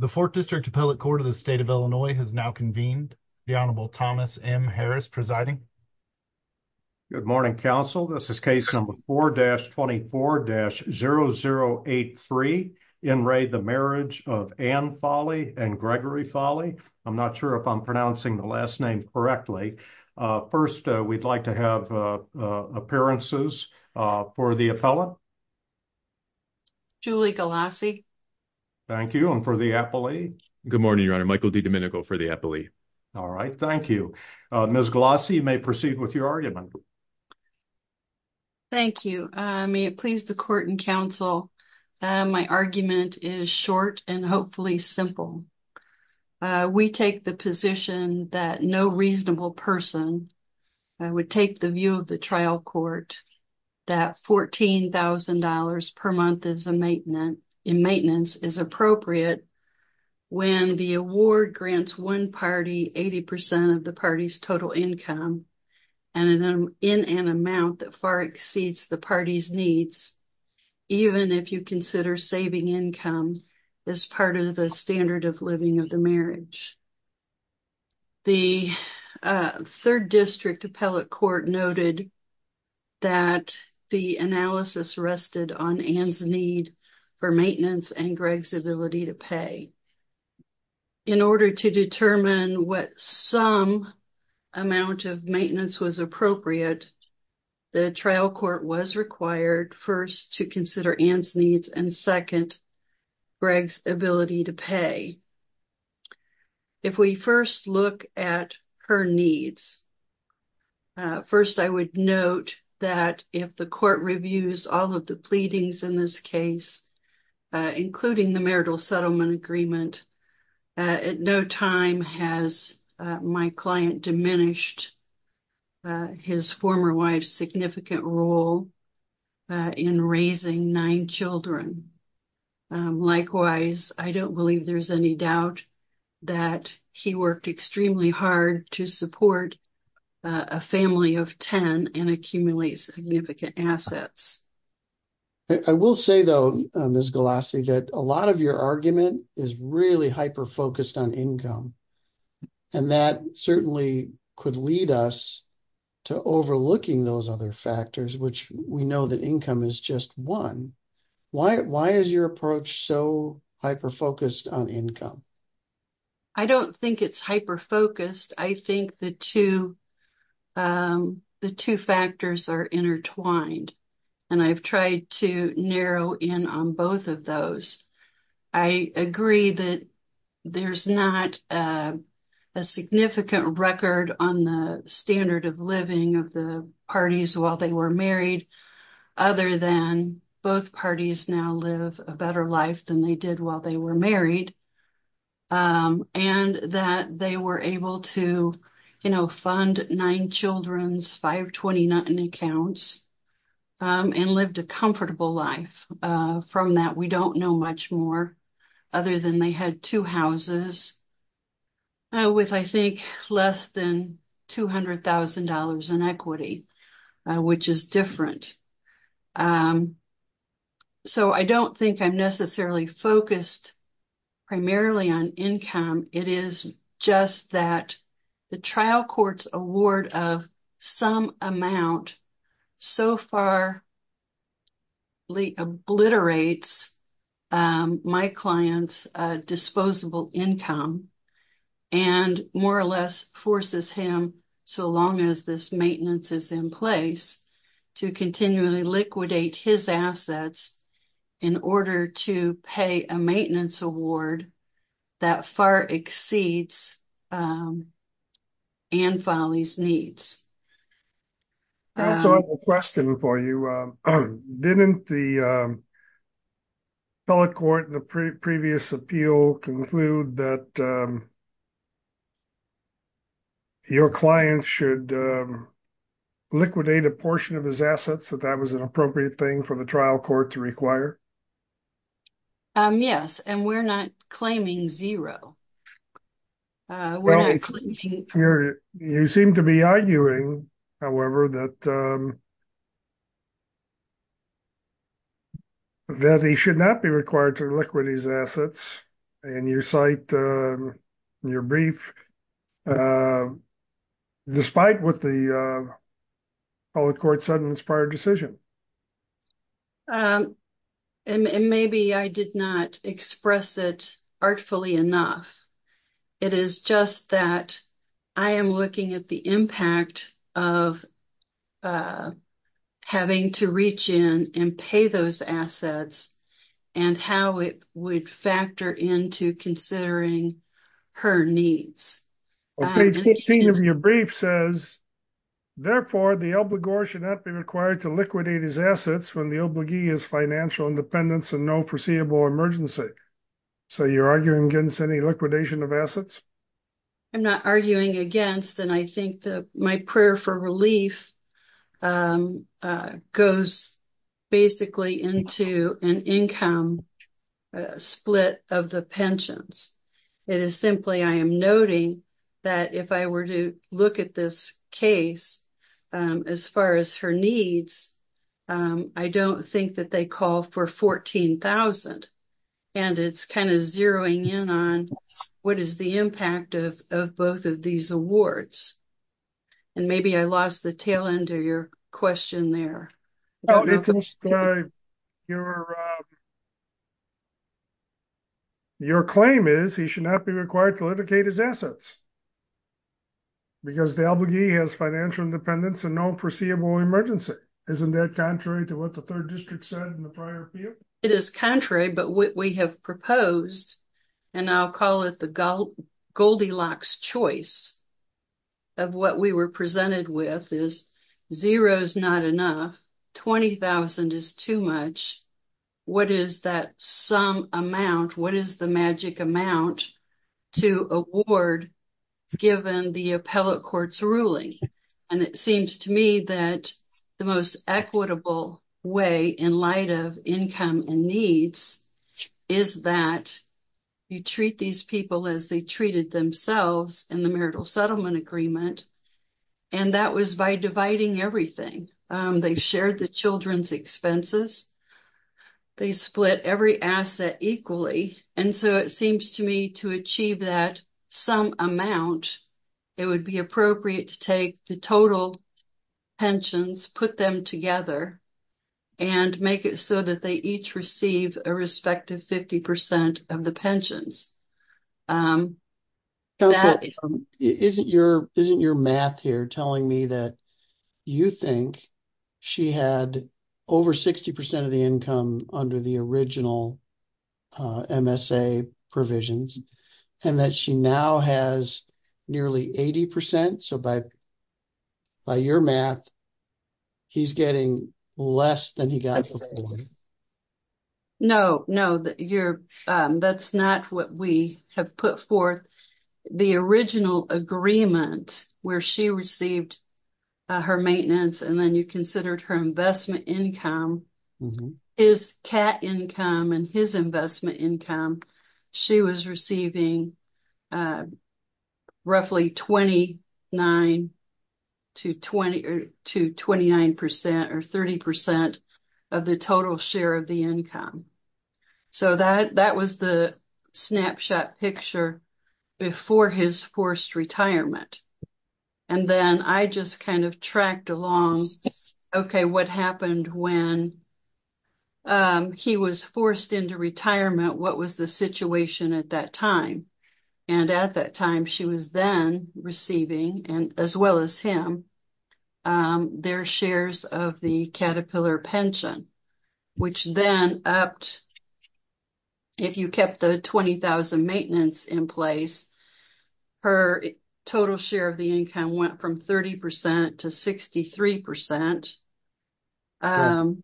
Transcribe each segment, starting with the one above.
The 4th District Appellate Court of the State of Illinois has now convened. The Honorable Thomas M. Harris presiding. Good morning, counsel. This is case number 4-24-0083, In Re, the Marriage of Ann Folley and Gregory Folley. I'm not sure if I'm pronouncing the last name correctly. First, we'd like to have appearances for the appellate. Julie Galassi. Thank you. And for the appellate? Good morning, Your Honor. Michael D. Domenico for the appellate. Thank you. Ms. Galassi, you may proceed with your argument. Thank you. May it please the court and counsel, my argument is short and hopefully simple. We take the position that no reasonable person would take the view of the trial court that $14,000 per month in maintenance is appropriate when the award grants one party 80% of the party's total income in an amount that far exceeds the party's needs, even if you consider saving income as part of the standard of living of the marriage. The third district appellate court noted that the analysis rested on Ann's need for maintenance and Greg's ability to pay. In order to determine what some amount of maintenance was appropriate, the trial court was required, first, to consider Ann's needs and, second, Greg's ability to pay. If we first look at her needs, first, I would note that if the court reviews all of the pleadings in this case, including the marital settlement agreement, at no time has my client diminished his former wife's significant role in raising nine children. Likewise, I don't believe there's any doubt that he worked extremely hard to support a family of 10 and accumulate significant assets. I will say, though, Ms. Galassi, that a lot of your argument is really hyper-focused on income, and that certainly could lead us to overlooking those other factors, which we know that income is just one. Why is your approach so hyper-focused on income? I don't think it's hyper-focused. I think the two factors are intertwined, and I've tried to narrow in on both of those. I agree that there's not a significant record on the standard of living of the parties while they were married, other than both parties now live a better life than they did while they were married, and that they were able to, you know, fund nine children's 520-noughton accounts and lived a comfortable life from that. We don't know much more, other than they had two houses with, I think, less than $200,000 in equity, which is different. So I don't think I'm necessarily focused primarily on income. It is just that the trial court's award of some amount so far obliterates my client's disposable income and more or less forces him, so long as this maintenance is in place, to continually liquidate his assets in order to pay a maintenance award that far exceeds Anne Folley's needs. I have a question for you. Didn't the appellate court in the previous appeal conclude that your client should liquidate a portion of his assets, that that was an appropriate thing for the trial court to require? Yes, and we're not claiming zero. Well, you seem to be arguing, however, that that he should not be required to liquidate his assets, and you cite your brief, despite what the appellate court said in its prior decision. And maybe I did not express it artfully enough. It is just that I am looking at the impact of having to reach in and pay those assets and how it would factor into considering her needs. Well, page 15 of your brief says, therefore, the obligor should not be required to liquidate his assets when the obligee is financial independence and no foreseeable emergency. So you're arguing against any liquidation of assets? I'm not arguing against, and I think that my prayer for relief goes basically into an income split of the pensions. It is simply I am noting that if I were to look at this case, as far as her needs, I don't think that they call for $14,000, and it's kind of zeroing in on what is the impact of both of these awards. And maybe I lost the tail end of your question there. Your claim is he should not be required to liquidate his assets because the obligee has financial independence and no foreseeable emergency. Isn't that contrary to what the third district said in the prior appeal? It is contrary, but what we have proposed, and I'll call it the Goldilocks choice, of what we were presented with is zero is not enough, 20,000 is too much. What is that sum amount? What is the magic amount to award given the appellate court's ruling? And it seems to me that the most equitable way in light of income and needs is that you treat these people as they treated themselves in the marital settlement agreement, and that was by dividing everything. They shared the children's expenses. They split every asset equally, and so it seems to me to achieve that sum amount, it would be appropriate to take the total pensions, put them together, and make it so that they each receive a respective 50% of the pensions. Isn't your math here telling me that you think she had over 60% of the income under the original MSA provisions, and that she now has nearly 80%? So, by your math, he's getting less than he got before. No, no, that's not what we have put forth. The original agreement where she received her maintenance and then you considered her investment income, his CAT income and his investment income, she was receiving a roughly 29% to 29% or 30% of the total share of the income. So, that was the snapshot picture before his forced retirement, and then I just kind of tracked along, okay, what happened when he was forced into retirement, what was the situation at that time? And at that time, she was then receiving, and as well as him, their shares of the Caterpillar pension, which then upped. If you kept the 20,000 maintenance in place, her total share of the income went from 30% to 63%. But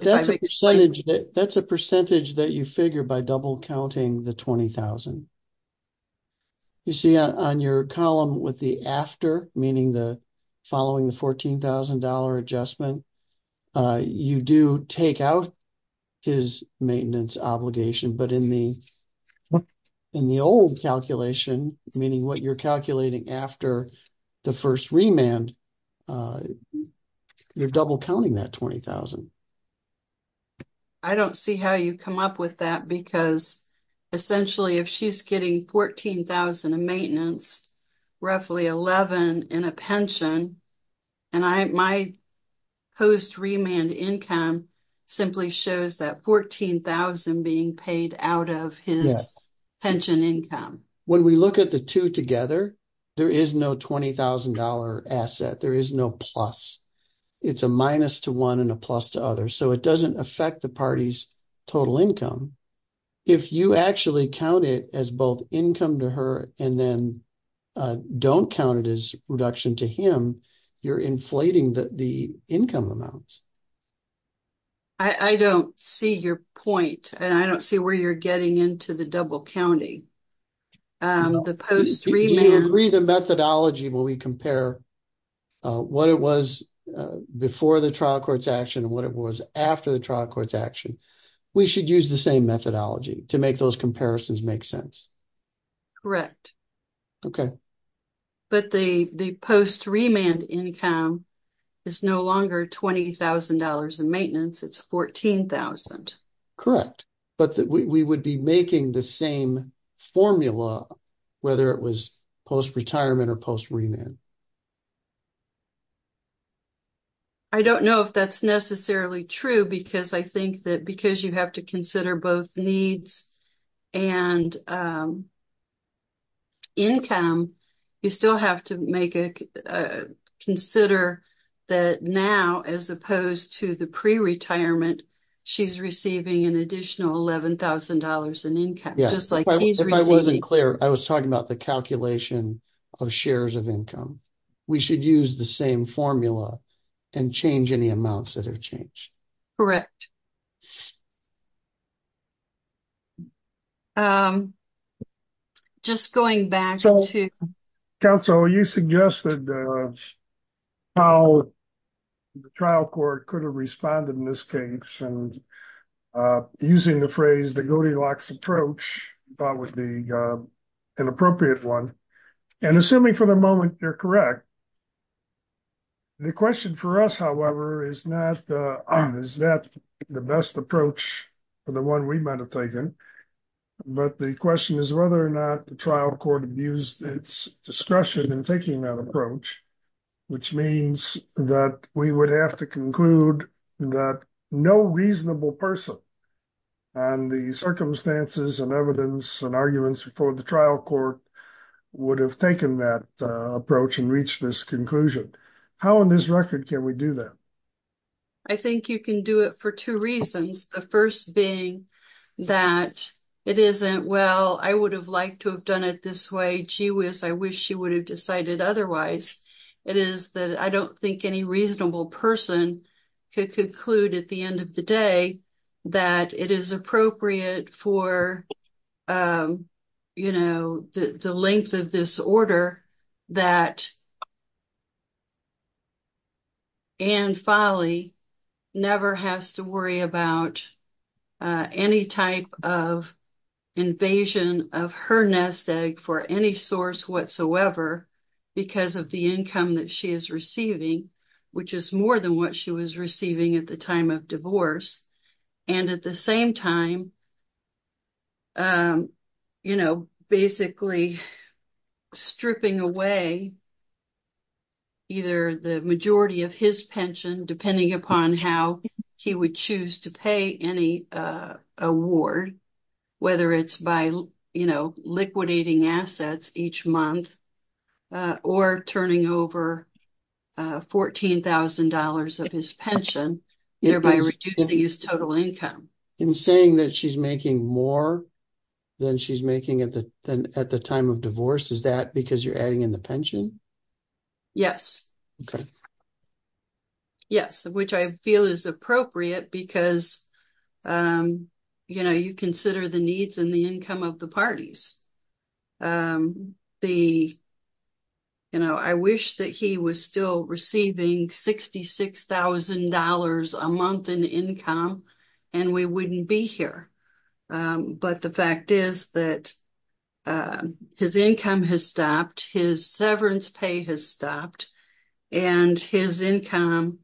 that's a percentage that you figure by double counting the 20,000. You see on your column with the after, meaning the following the $14,000 adjustment, you do take out his maintenance obligation, but in the old calculation, meaning what you're calculating after the first remand, you're double counting that 20,000. I don't see how you come up with that because essentially if she's getting 14,000 in maintenance, roughly 11 in a pension, and my post remand income simply shows that 14,000 being paid out of his pension income. When we look at the two together, there is no $20,000 asset. There is no plus. It's a minus to one and a plus to others. So it doesn't affect the party's total income. If you actually count it as both income to her and then don't count it as reduction to him, you're inflating the income amounts. I don't see your point, and I don't see where you're getting into the double counting. If you agree the methodology when we compare what it was before the trial court's action and what it was after the trial court's action, we should use the same methodology to make those comparisons make sense. Correct. Okay. But the post remand income is no longer $20,000 in maintenance. It's 14,000. Correct. But we would be making the same formula whether it was post retirement or post remand. I don't know if that's necessarily true because I think that because you have to consider both needs and income, you still have to consider that now as opposed to the pre-retirement, she's receiving an additional $11,000 in income, just like he's receiving. If I wasn't clear, I was talking about the calculation of shares of income. We should use the same formula and change any amounts that have changed. Correct. Just going back to- Counsel, you suggested how the trial court could have responded in this case and using the phrase, the Goldilocks approach, thought would be an appropriate one. And assuming for the moment, you're correct. The question for us, however, is not, is that the best approach for the one we might have taken? But the question is whether or not the trial court abused its discretion in taking that approach, which means that we would have to conclude that no reasonable person on the circumstances and evidence and arguments before the trial court would have taken that approach and reached this conclusion. How on this record can we do that? I think you can do it for two reasons. The first being that it isn't, well, I would have liked to have done it this way. Gee whiz, I wish she would have decided otherwise. It is that I don't think any reasonable person could conclude at the end of the day that it is appropriate for, you know, the length of this order that Ann Folley never has to worry about any type of invasion of her nest egg for any source whatsoever because of the income that she is receiving, which is more than what she was receiving at the time of divorce. And at the same time, you know, basically stripping away either the majority of his pension, depending upon how he would choose to pay any award, whether it's by, you know, liquidating assets each month or turning over $14,000 of his pension, thereby reducing his total income. In saying that she's making more than she's making at the time of divorce, is that because you're adding in the pension? Yes. Yes, which I feel is appropriate because, you know, you consider the needs and the income of the parties. The, you know, I wish that he was still receiving $66,000 a month in income and we wouldn't be here, but the fact is that his income has stopped, his severance pay has stopped, and his income,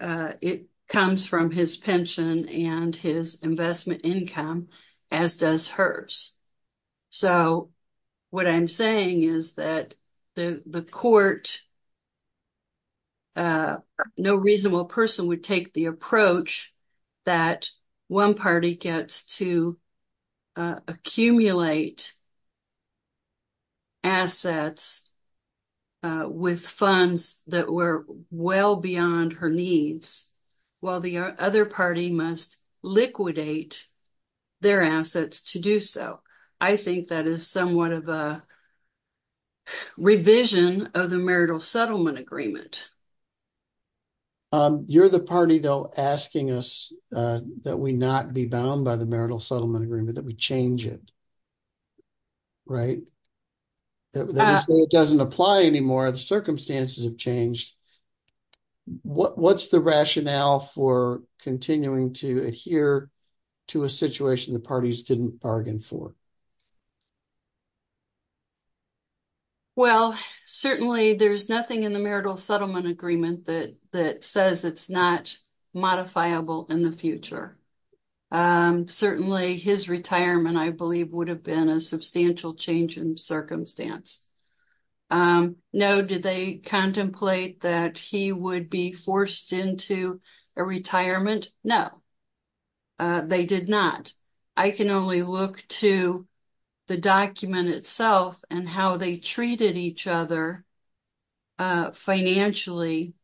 it comes from his pension and his investment income, as does hers. So what I'm saying is that the court, no reasonable person would take the approach that one party gets to accumulate assets with funds that were well beyond her needs, while the other party must liquidate their assets to do so. I think that is somewhat of a revision of the marital settlement agreement. You're the party, though, asking us that we not be bound by the marital settlement agreement, that we change it, right? That it doesn't apply anymore, the circumstances have changed. What's the rationale for continuing to adhere to a situation the parties didn't bargain for? Well, certainly there's nothing in the marital settlement agreement that says it's not modifiable in the future. Certainly his retirement, I believe, would have been a substantial change in circumstance. No, did they contemplate that he would be forced into a retirement? No, they did not. I can only look to the document itself and how they treated each other financially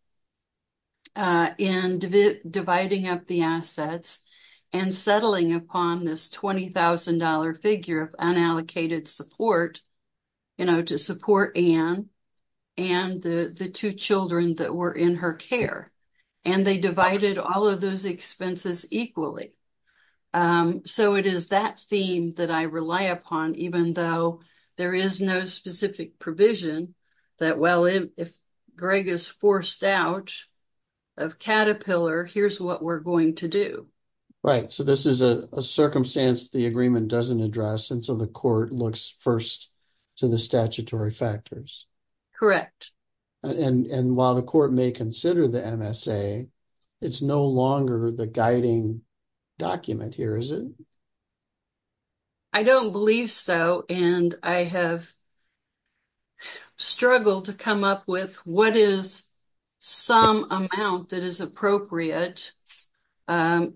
in dividing up the assets and settling upon this $20,000 figure of unallocated support, you know, to support Anne and the two children that were in her care. And they divided all of those expenses equally. So, it is that theme that I rely upon, even though there is no specific provision that, well, if Greg is forced out of Caterpillar, here's what we're going to do. Right. So, this is a circumstance the agreement doesn't address, and so the court looks first to the statutory factors. Correct. And while the court may consider the MSA, it's no longer the guiding document here, is it? I don't believe so, and I have struggled to come up with what is some amount that is appropriate, and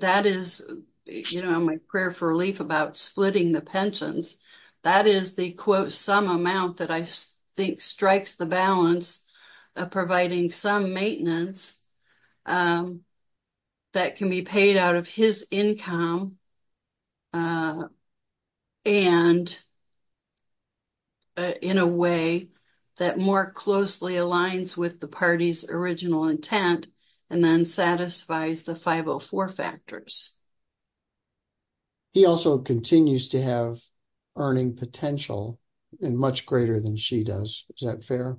that is, you know, my prayer for relief about splitting the That is the, quote, some amount that I think strikes the balance of providing some maintenance that can be paid out of his income and in a way that more closely aligns with the party's original intent and then satisfies the 504 factors. He also continues to have earning potential, and much greater than she does. Is that fair?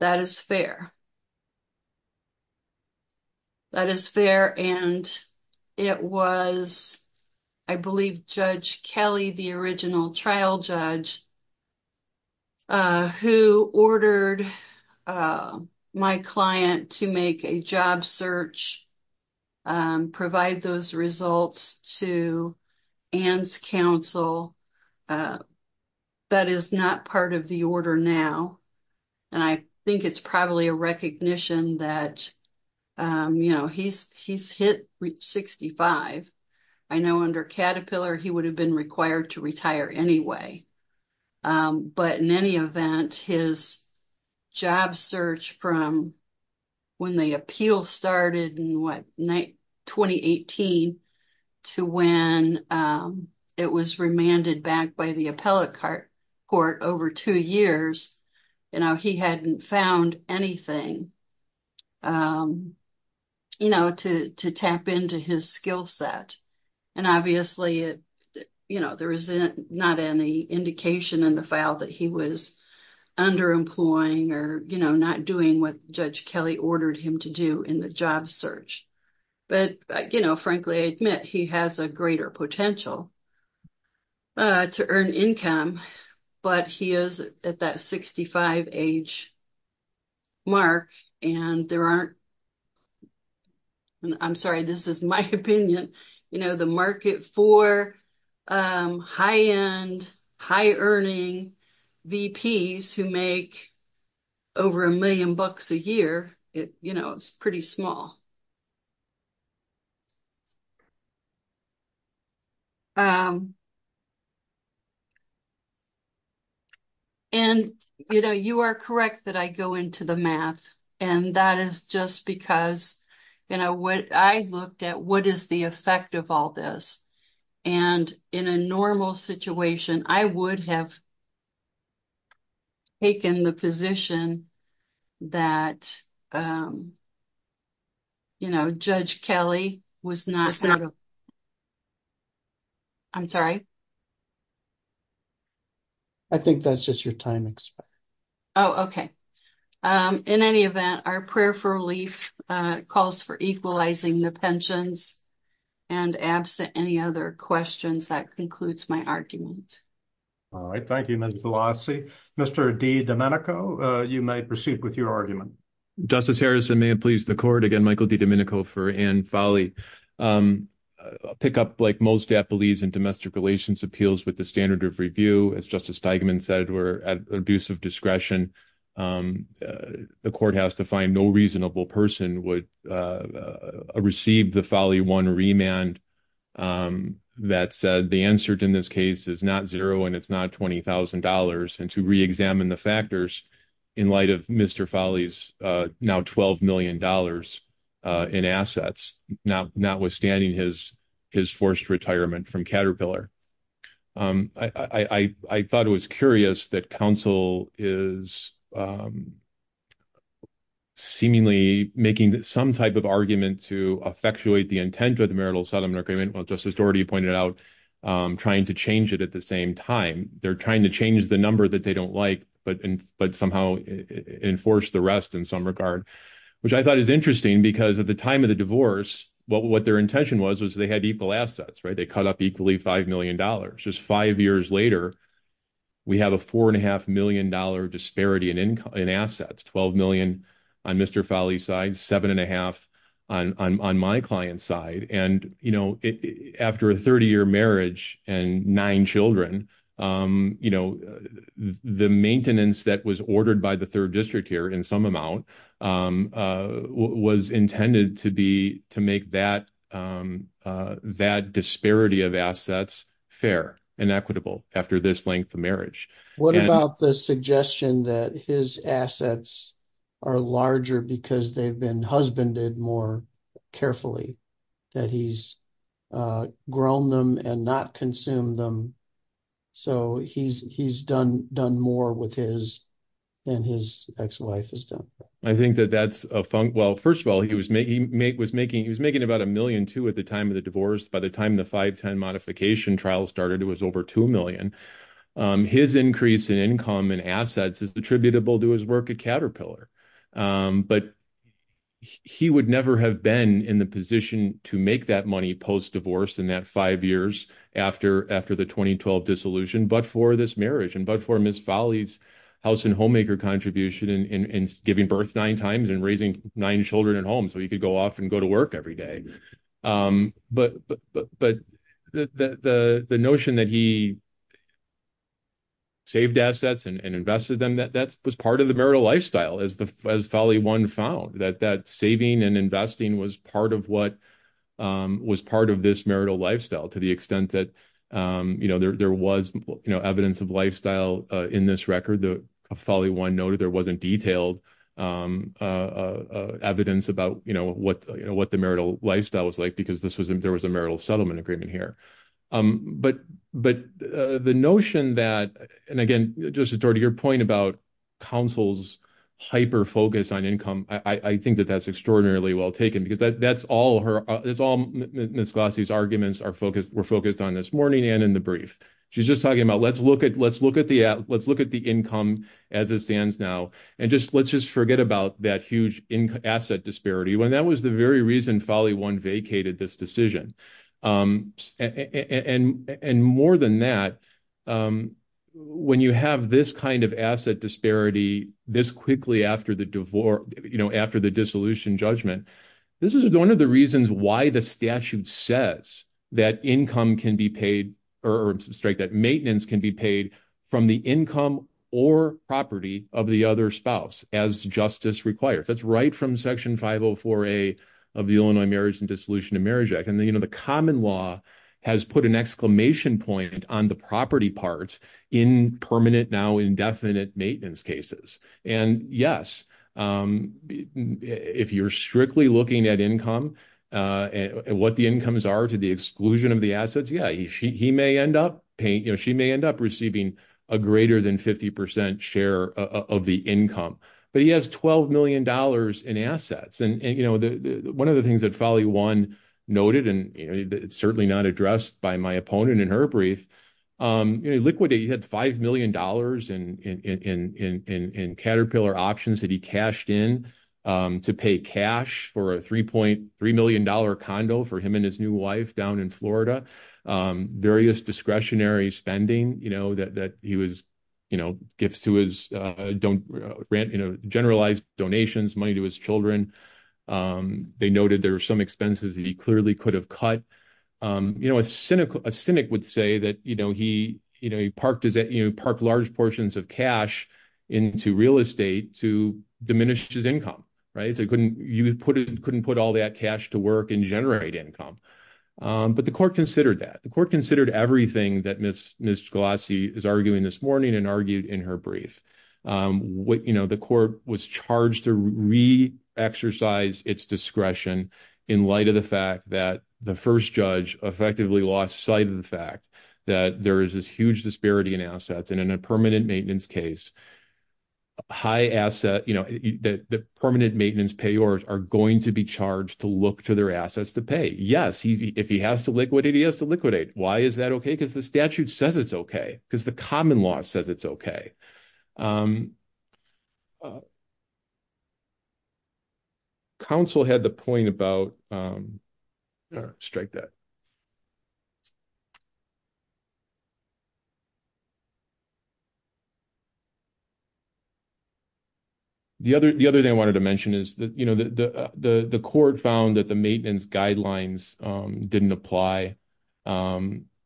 That is fair. That is fair, and it was, I believe, Judge Kelly, the original trial judge, who ordered my client to make a job search, provide those results to Ann's counsel. That is not part of the order now, and I think it's probably a recognition that, you know, he's hit 65. I know under Caterpillar, he would have been required to retire anyway. But in any event, his job search from when the appeal started in, what, 2018, to when it was remanded back by the appellate court over two years, you know, he hadn't found anything, you know, to tap into his skill set. And obviously, you know, there is not any indication in the file that he was underemploying or, you know, not doing what Judge Kelly ordered him to do in the job search. But, you know, frankly, I admit he has a greater potential to earn income, but he is at that 65 age mark, and there aren't, I'm sorry, this is my opinion, you know, the market for high-end, high-earning VPs who make over a million bucks a year, you know, it's pretty small. And, you know, you are correct that I go into the math, and that is just because, you know, what I looked at, what is the effect of all this? And in a normal situation, I would have taken the position that, you know, Judge Kelly was not, I'm sorry? I think that's just your time expected. Oh, okay. In any event, our prayer for relief calls for equalizing the pensions, and absent any other questions, that concludes my argument. All right. Thank you, Mr. Pelosi. Mr. DiDomenico, you may proceed with your argument. Justice Harrison, may it please the Court? Again, Michael DiDomenico for Ann Folley. I'll pick up like most appellees in domestic relations appeals with the standard of review. As Justice Steigman said, we're at abuse of discretion. The Court has to find no reasonable person would receive the Folley 1 remand that said the answer in this case is not zero, and it's not $20,000, and to reexamine the factors in light of Mr. Folley's now $12 million in assets, notwithstanding his forced retirement from Caterpillar. I thought it was curious that counsel is seemingly making some type of argument to effectuate the intent of the marital settlement agreement, which Justice Dougherty pointed out, trying to change it at the same time. They're trying to change the number that they don't like, but somehow enforce the rest in some regard, which I thought is interesting because at the time of the divorce, what their intention was, was they had equal assets, right? They cut up equally $5 million. Just five years later, we have a $4.5 million disparity in assets, $12 million on Mr. Folley's side, $7.5 on my client's side. After a 30-year marriage and nine children, the maintenance that was ordered by the Third District here in some amount was intended to make that disparity of assets fair and equitable after this length of marriage. What about the suggestion that his assets are larger because they've been husbanded more carefully, that he's grown them and not consumed them, so he's done more than his ex-wife has done? First of all, he was making about $1 million, too, at the time of the divorce. By the time the 5-10 modification trial started, it was over $2 million. His increase in income and assets is attributable to his work at Caterpillar, but he would never have been in the position to make that money post-divorce in that five years after the 2012 dissolution, but for this marriage and for Ms. Folley's house and homemaker contribution in giving birth nine times and raising nine children at home so he could go off and go to work every day. But the notion that he saved assets and invested them, that was part of the marital lifestyle, as Folley 1 found, that that saving and investing was part of this marital lifestyle to the extent that there was evidence of lifestyle in this record. Folley 1 noted there wasn't detailed evidence about what the marital lifestyle was like because there was a marital settlement agreement here. But the notion that, and again, just to your point about counsel's hyper-focus on income, I think that that's extraordinarily well taken because that's all Ms. Glossy's were focused on this morning and in the brief. She's just talking about let's look at the income as it stands now, and let's just forget about that huge asset disparity, when that was the very reason Folley 1 vacated this decision. And more than that, when you have this kind of asset disparity this quickly after the dissolution judgment, this is one of the reasons why the statute says that maintenance can be paid from the income or property of the other spouse as justice requires. That's right from Section 504A of the Illinois Marriage and Dissolution of Marriage Act. And the common law has put an exclamation point on the property part in permanent, now indefinite maintenance cases. And yes, if you're strictly looking at income, what the incomes are to the exclusion of the assets, yeah, she may end up receiving a greater than 50% share of the income, but he has $12 million in assets. And one of the things that Folley 1 noted, and it's certainly not addressed by my opponent in her brief, Liquidity had $5 million in Caterpillar options that he cashed in to pay cash for a $3.3 million condo for him and his new wife down in Florida, various discretionary spending, gifts to his, generalized donations, money to his children. They noted there were some expenses that he clearly could have cut. A cynic would say that he parked large portions of cash into real estate to diminish his income, right? So he couldn't put all that cash to work and generate income. But the court considered that. The court considered everything that Ms. Galassi is arguing this morning and argued in her brief. The court was charged to re-exercise its discretion in light of the fact that the first judge effectively lost sight of the fact that there is this huge disparity in assets. And in a permanent maintenance case, the permanent maintenance payors are going to be charged to look to their assets to pay. Yes, if he has to liquidate, he has to liquidate. Why is that okay? Because the statute says it's okay. Because the common law says it's okay. Counsel had the point about, strike that. The other thing I wanted to mention is that, you know, the court found that the maintenance guidelines didn't apply.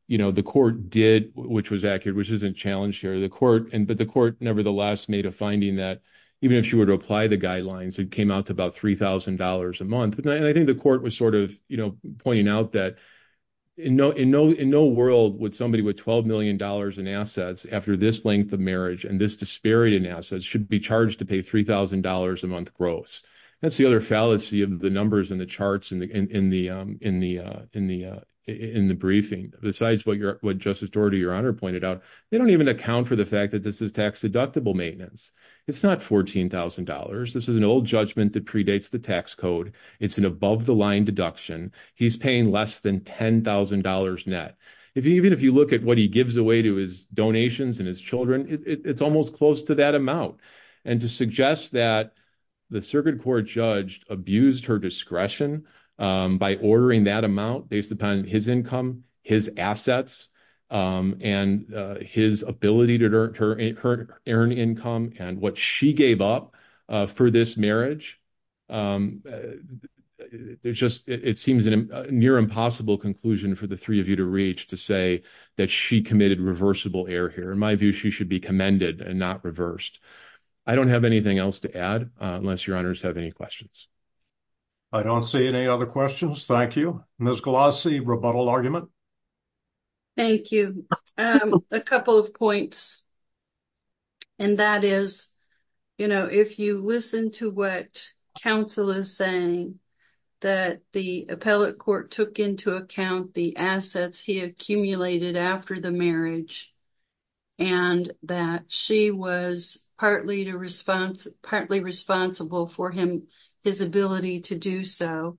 You know, the court did, which was accurate, which isn't challenged to the court. But the court nevertheless made a finding that even if she were to apply the guidelines, it came out to about $3,000 a month. And I think the court was sort of, you know, pointing out that in no world would somebody with $12 million in assets after this length of marriage and this disparity in assets should be charged to pay $3,000 a month gross. That's the other fallacy of the numbers and the charts in the briefing. Besides what your honor pointed out, they don't even account for the fact that this is tax deductible maintenance. It's not $14,000. This is an old judgment that predates the tax code. It's an above the line deduction. He's paying less than $10,000 net. Even if you look at what he gives away to his donations and his children, it's almost close to that amount. And to suggest that the circuit court judge abused her discretion by ordering that amount based upon his income, his assets, and his ability to earn income and what she gave up for this marriage. It seems a near impossible conclusion for the three of you to reach to say that she committed reversible error here. In my view, she should be commended and not reversed. I don't have anything else to add unless your honors have any questions. I don't see any other questions. Thank you. Ms. Galassi, rebuttal argument. Thank you. A couple of points and that is, you know, if you listen to what counsel is saying that the appellate court took into account the assets he accumulated after the marriage and that she was partly responsible for his ability to do so.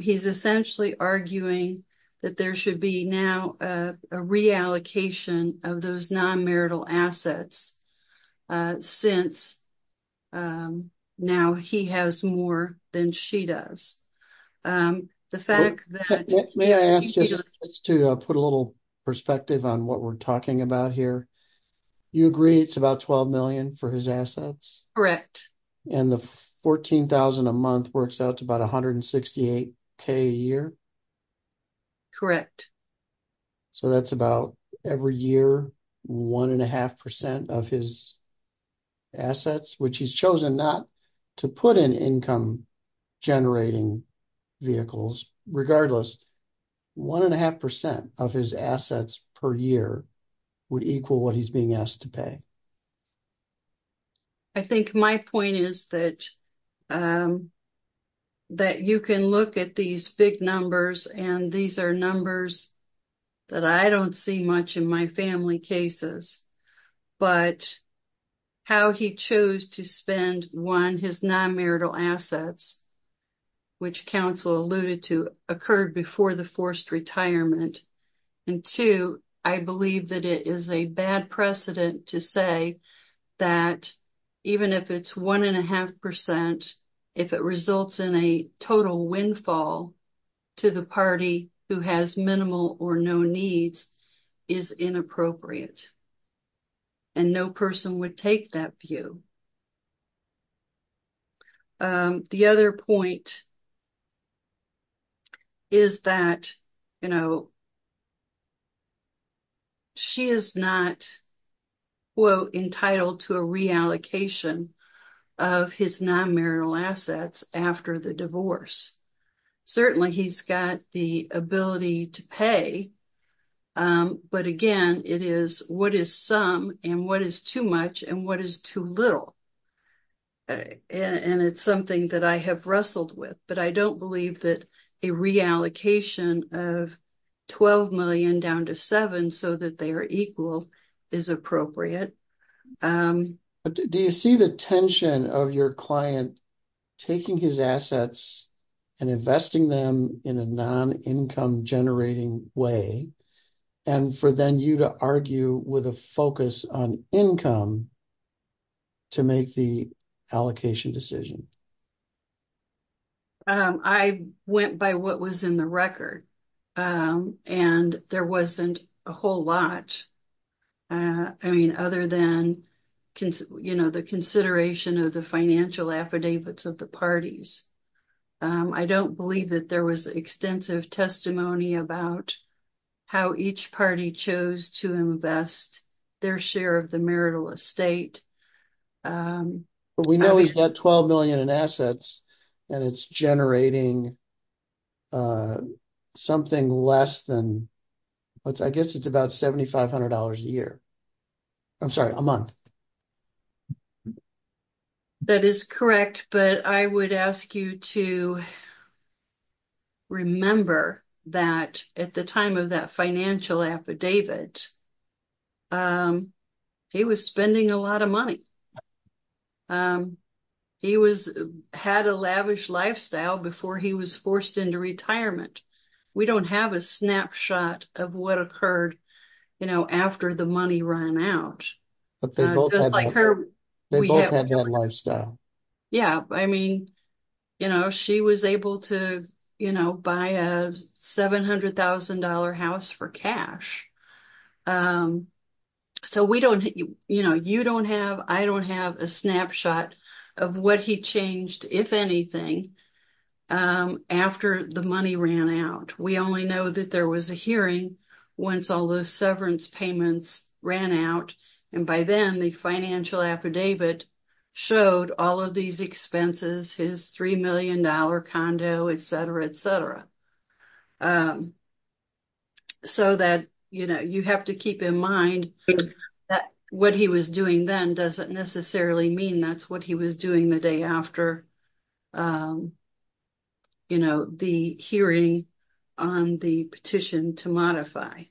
He's essentially arguing that there should be now a reallocation of those non-marital assets since now he has more than she does. May I ask just to put a little perspective on what we're talking about here. You agree it's about $12 million for his assets? Correct. And the $14,000 a month works out to about $168,000 a year? Correct. So that's about every year one and a half percent of his assets, which he's chosen not to put in income generating vehicles. Regardless, one and a half percent of his assets per year would equal what he's being asked to pay. I think my point is that you can look at these big numbers and these are numbers that I don't see much in my family cases, but how he chose to spend one, his non-marital assets, which counsel alluded to, occurred before the forced retirement. And two, I believe that it is a bad precedent to say that even if it's one and a half percent, if it results in a total windfall to the party who has minimal or no needs is inappropriate and no person would take that view. The other point is that, you know, she is not, quote, entitled to a reallocation of his non-marital assets after the divorce. Certainly, he's got the ability to pay, but again, it is what is some and what is too much and what is too little. And it's something that I have wrestled with, but I don't believe that a reallocation of 12 million down to seven so that they are equal is appropriate. Do you see the tension of your client taking his assets and investing them in a non-income generating way and for then you to argue with a focus on income to make the allocation decision? I went by what was in the record and there wasn't a whole lot, I mean, other than, you know, the consideration of the financial affidavits of the parties. I don't believe that there was extensive testimony about how each party chose to invest their share of the marital estate. But we know he's got 12 million in assets and it's generating something less than, I guess it's about $7,500 a year. I'm sorry, a month. That is correct, but I would ask you to remember that at the time of that financial affidavit, he was spending a lot of money. He had a lavish lifestyle before he was forced into retirement. We don't have a snapshot of what occurred, you know, after the money ran out. But they both had that lifestyle. Yeah, I mean, you know, she was able to, you know, buy a $700,000 house for cash. So we don't, you know, you don't have, I don't have a snapshot of what he changed, if anything, after the money ran out. We only know that there was a hearing once all those severance payments ran out. And by then the financial affidavit showed all of these expenses, his $3 million condo, et cetera, et cetera. So that, you know, you have to keep in mind that what he was doing then doesn't necessarily mean that's what he was doing the day after, you know, the hearing on the petition to modify.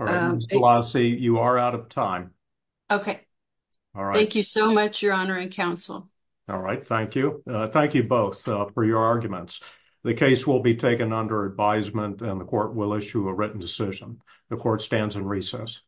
All right, Ms. Pelosi, you are out of time. Okay. Thank you so much, Your Honor and counsel. All right. Thank you. Thank you both for your arguments. The case will be taken under advisement and the court will issue a written decision. The court stands in recess.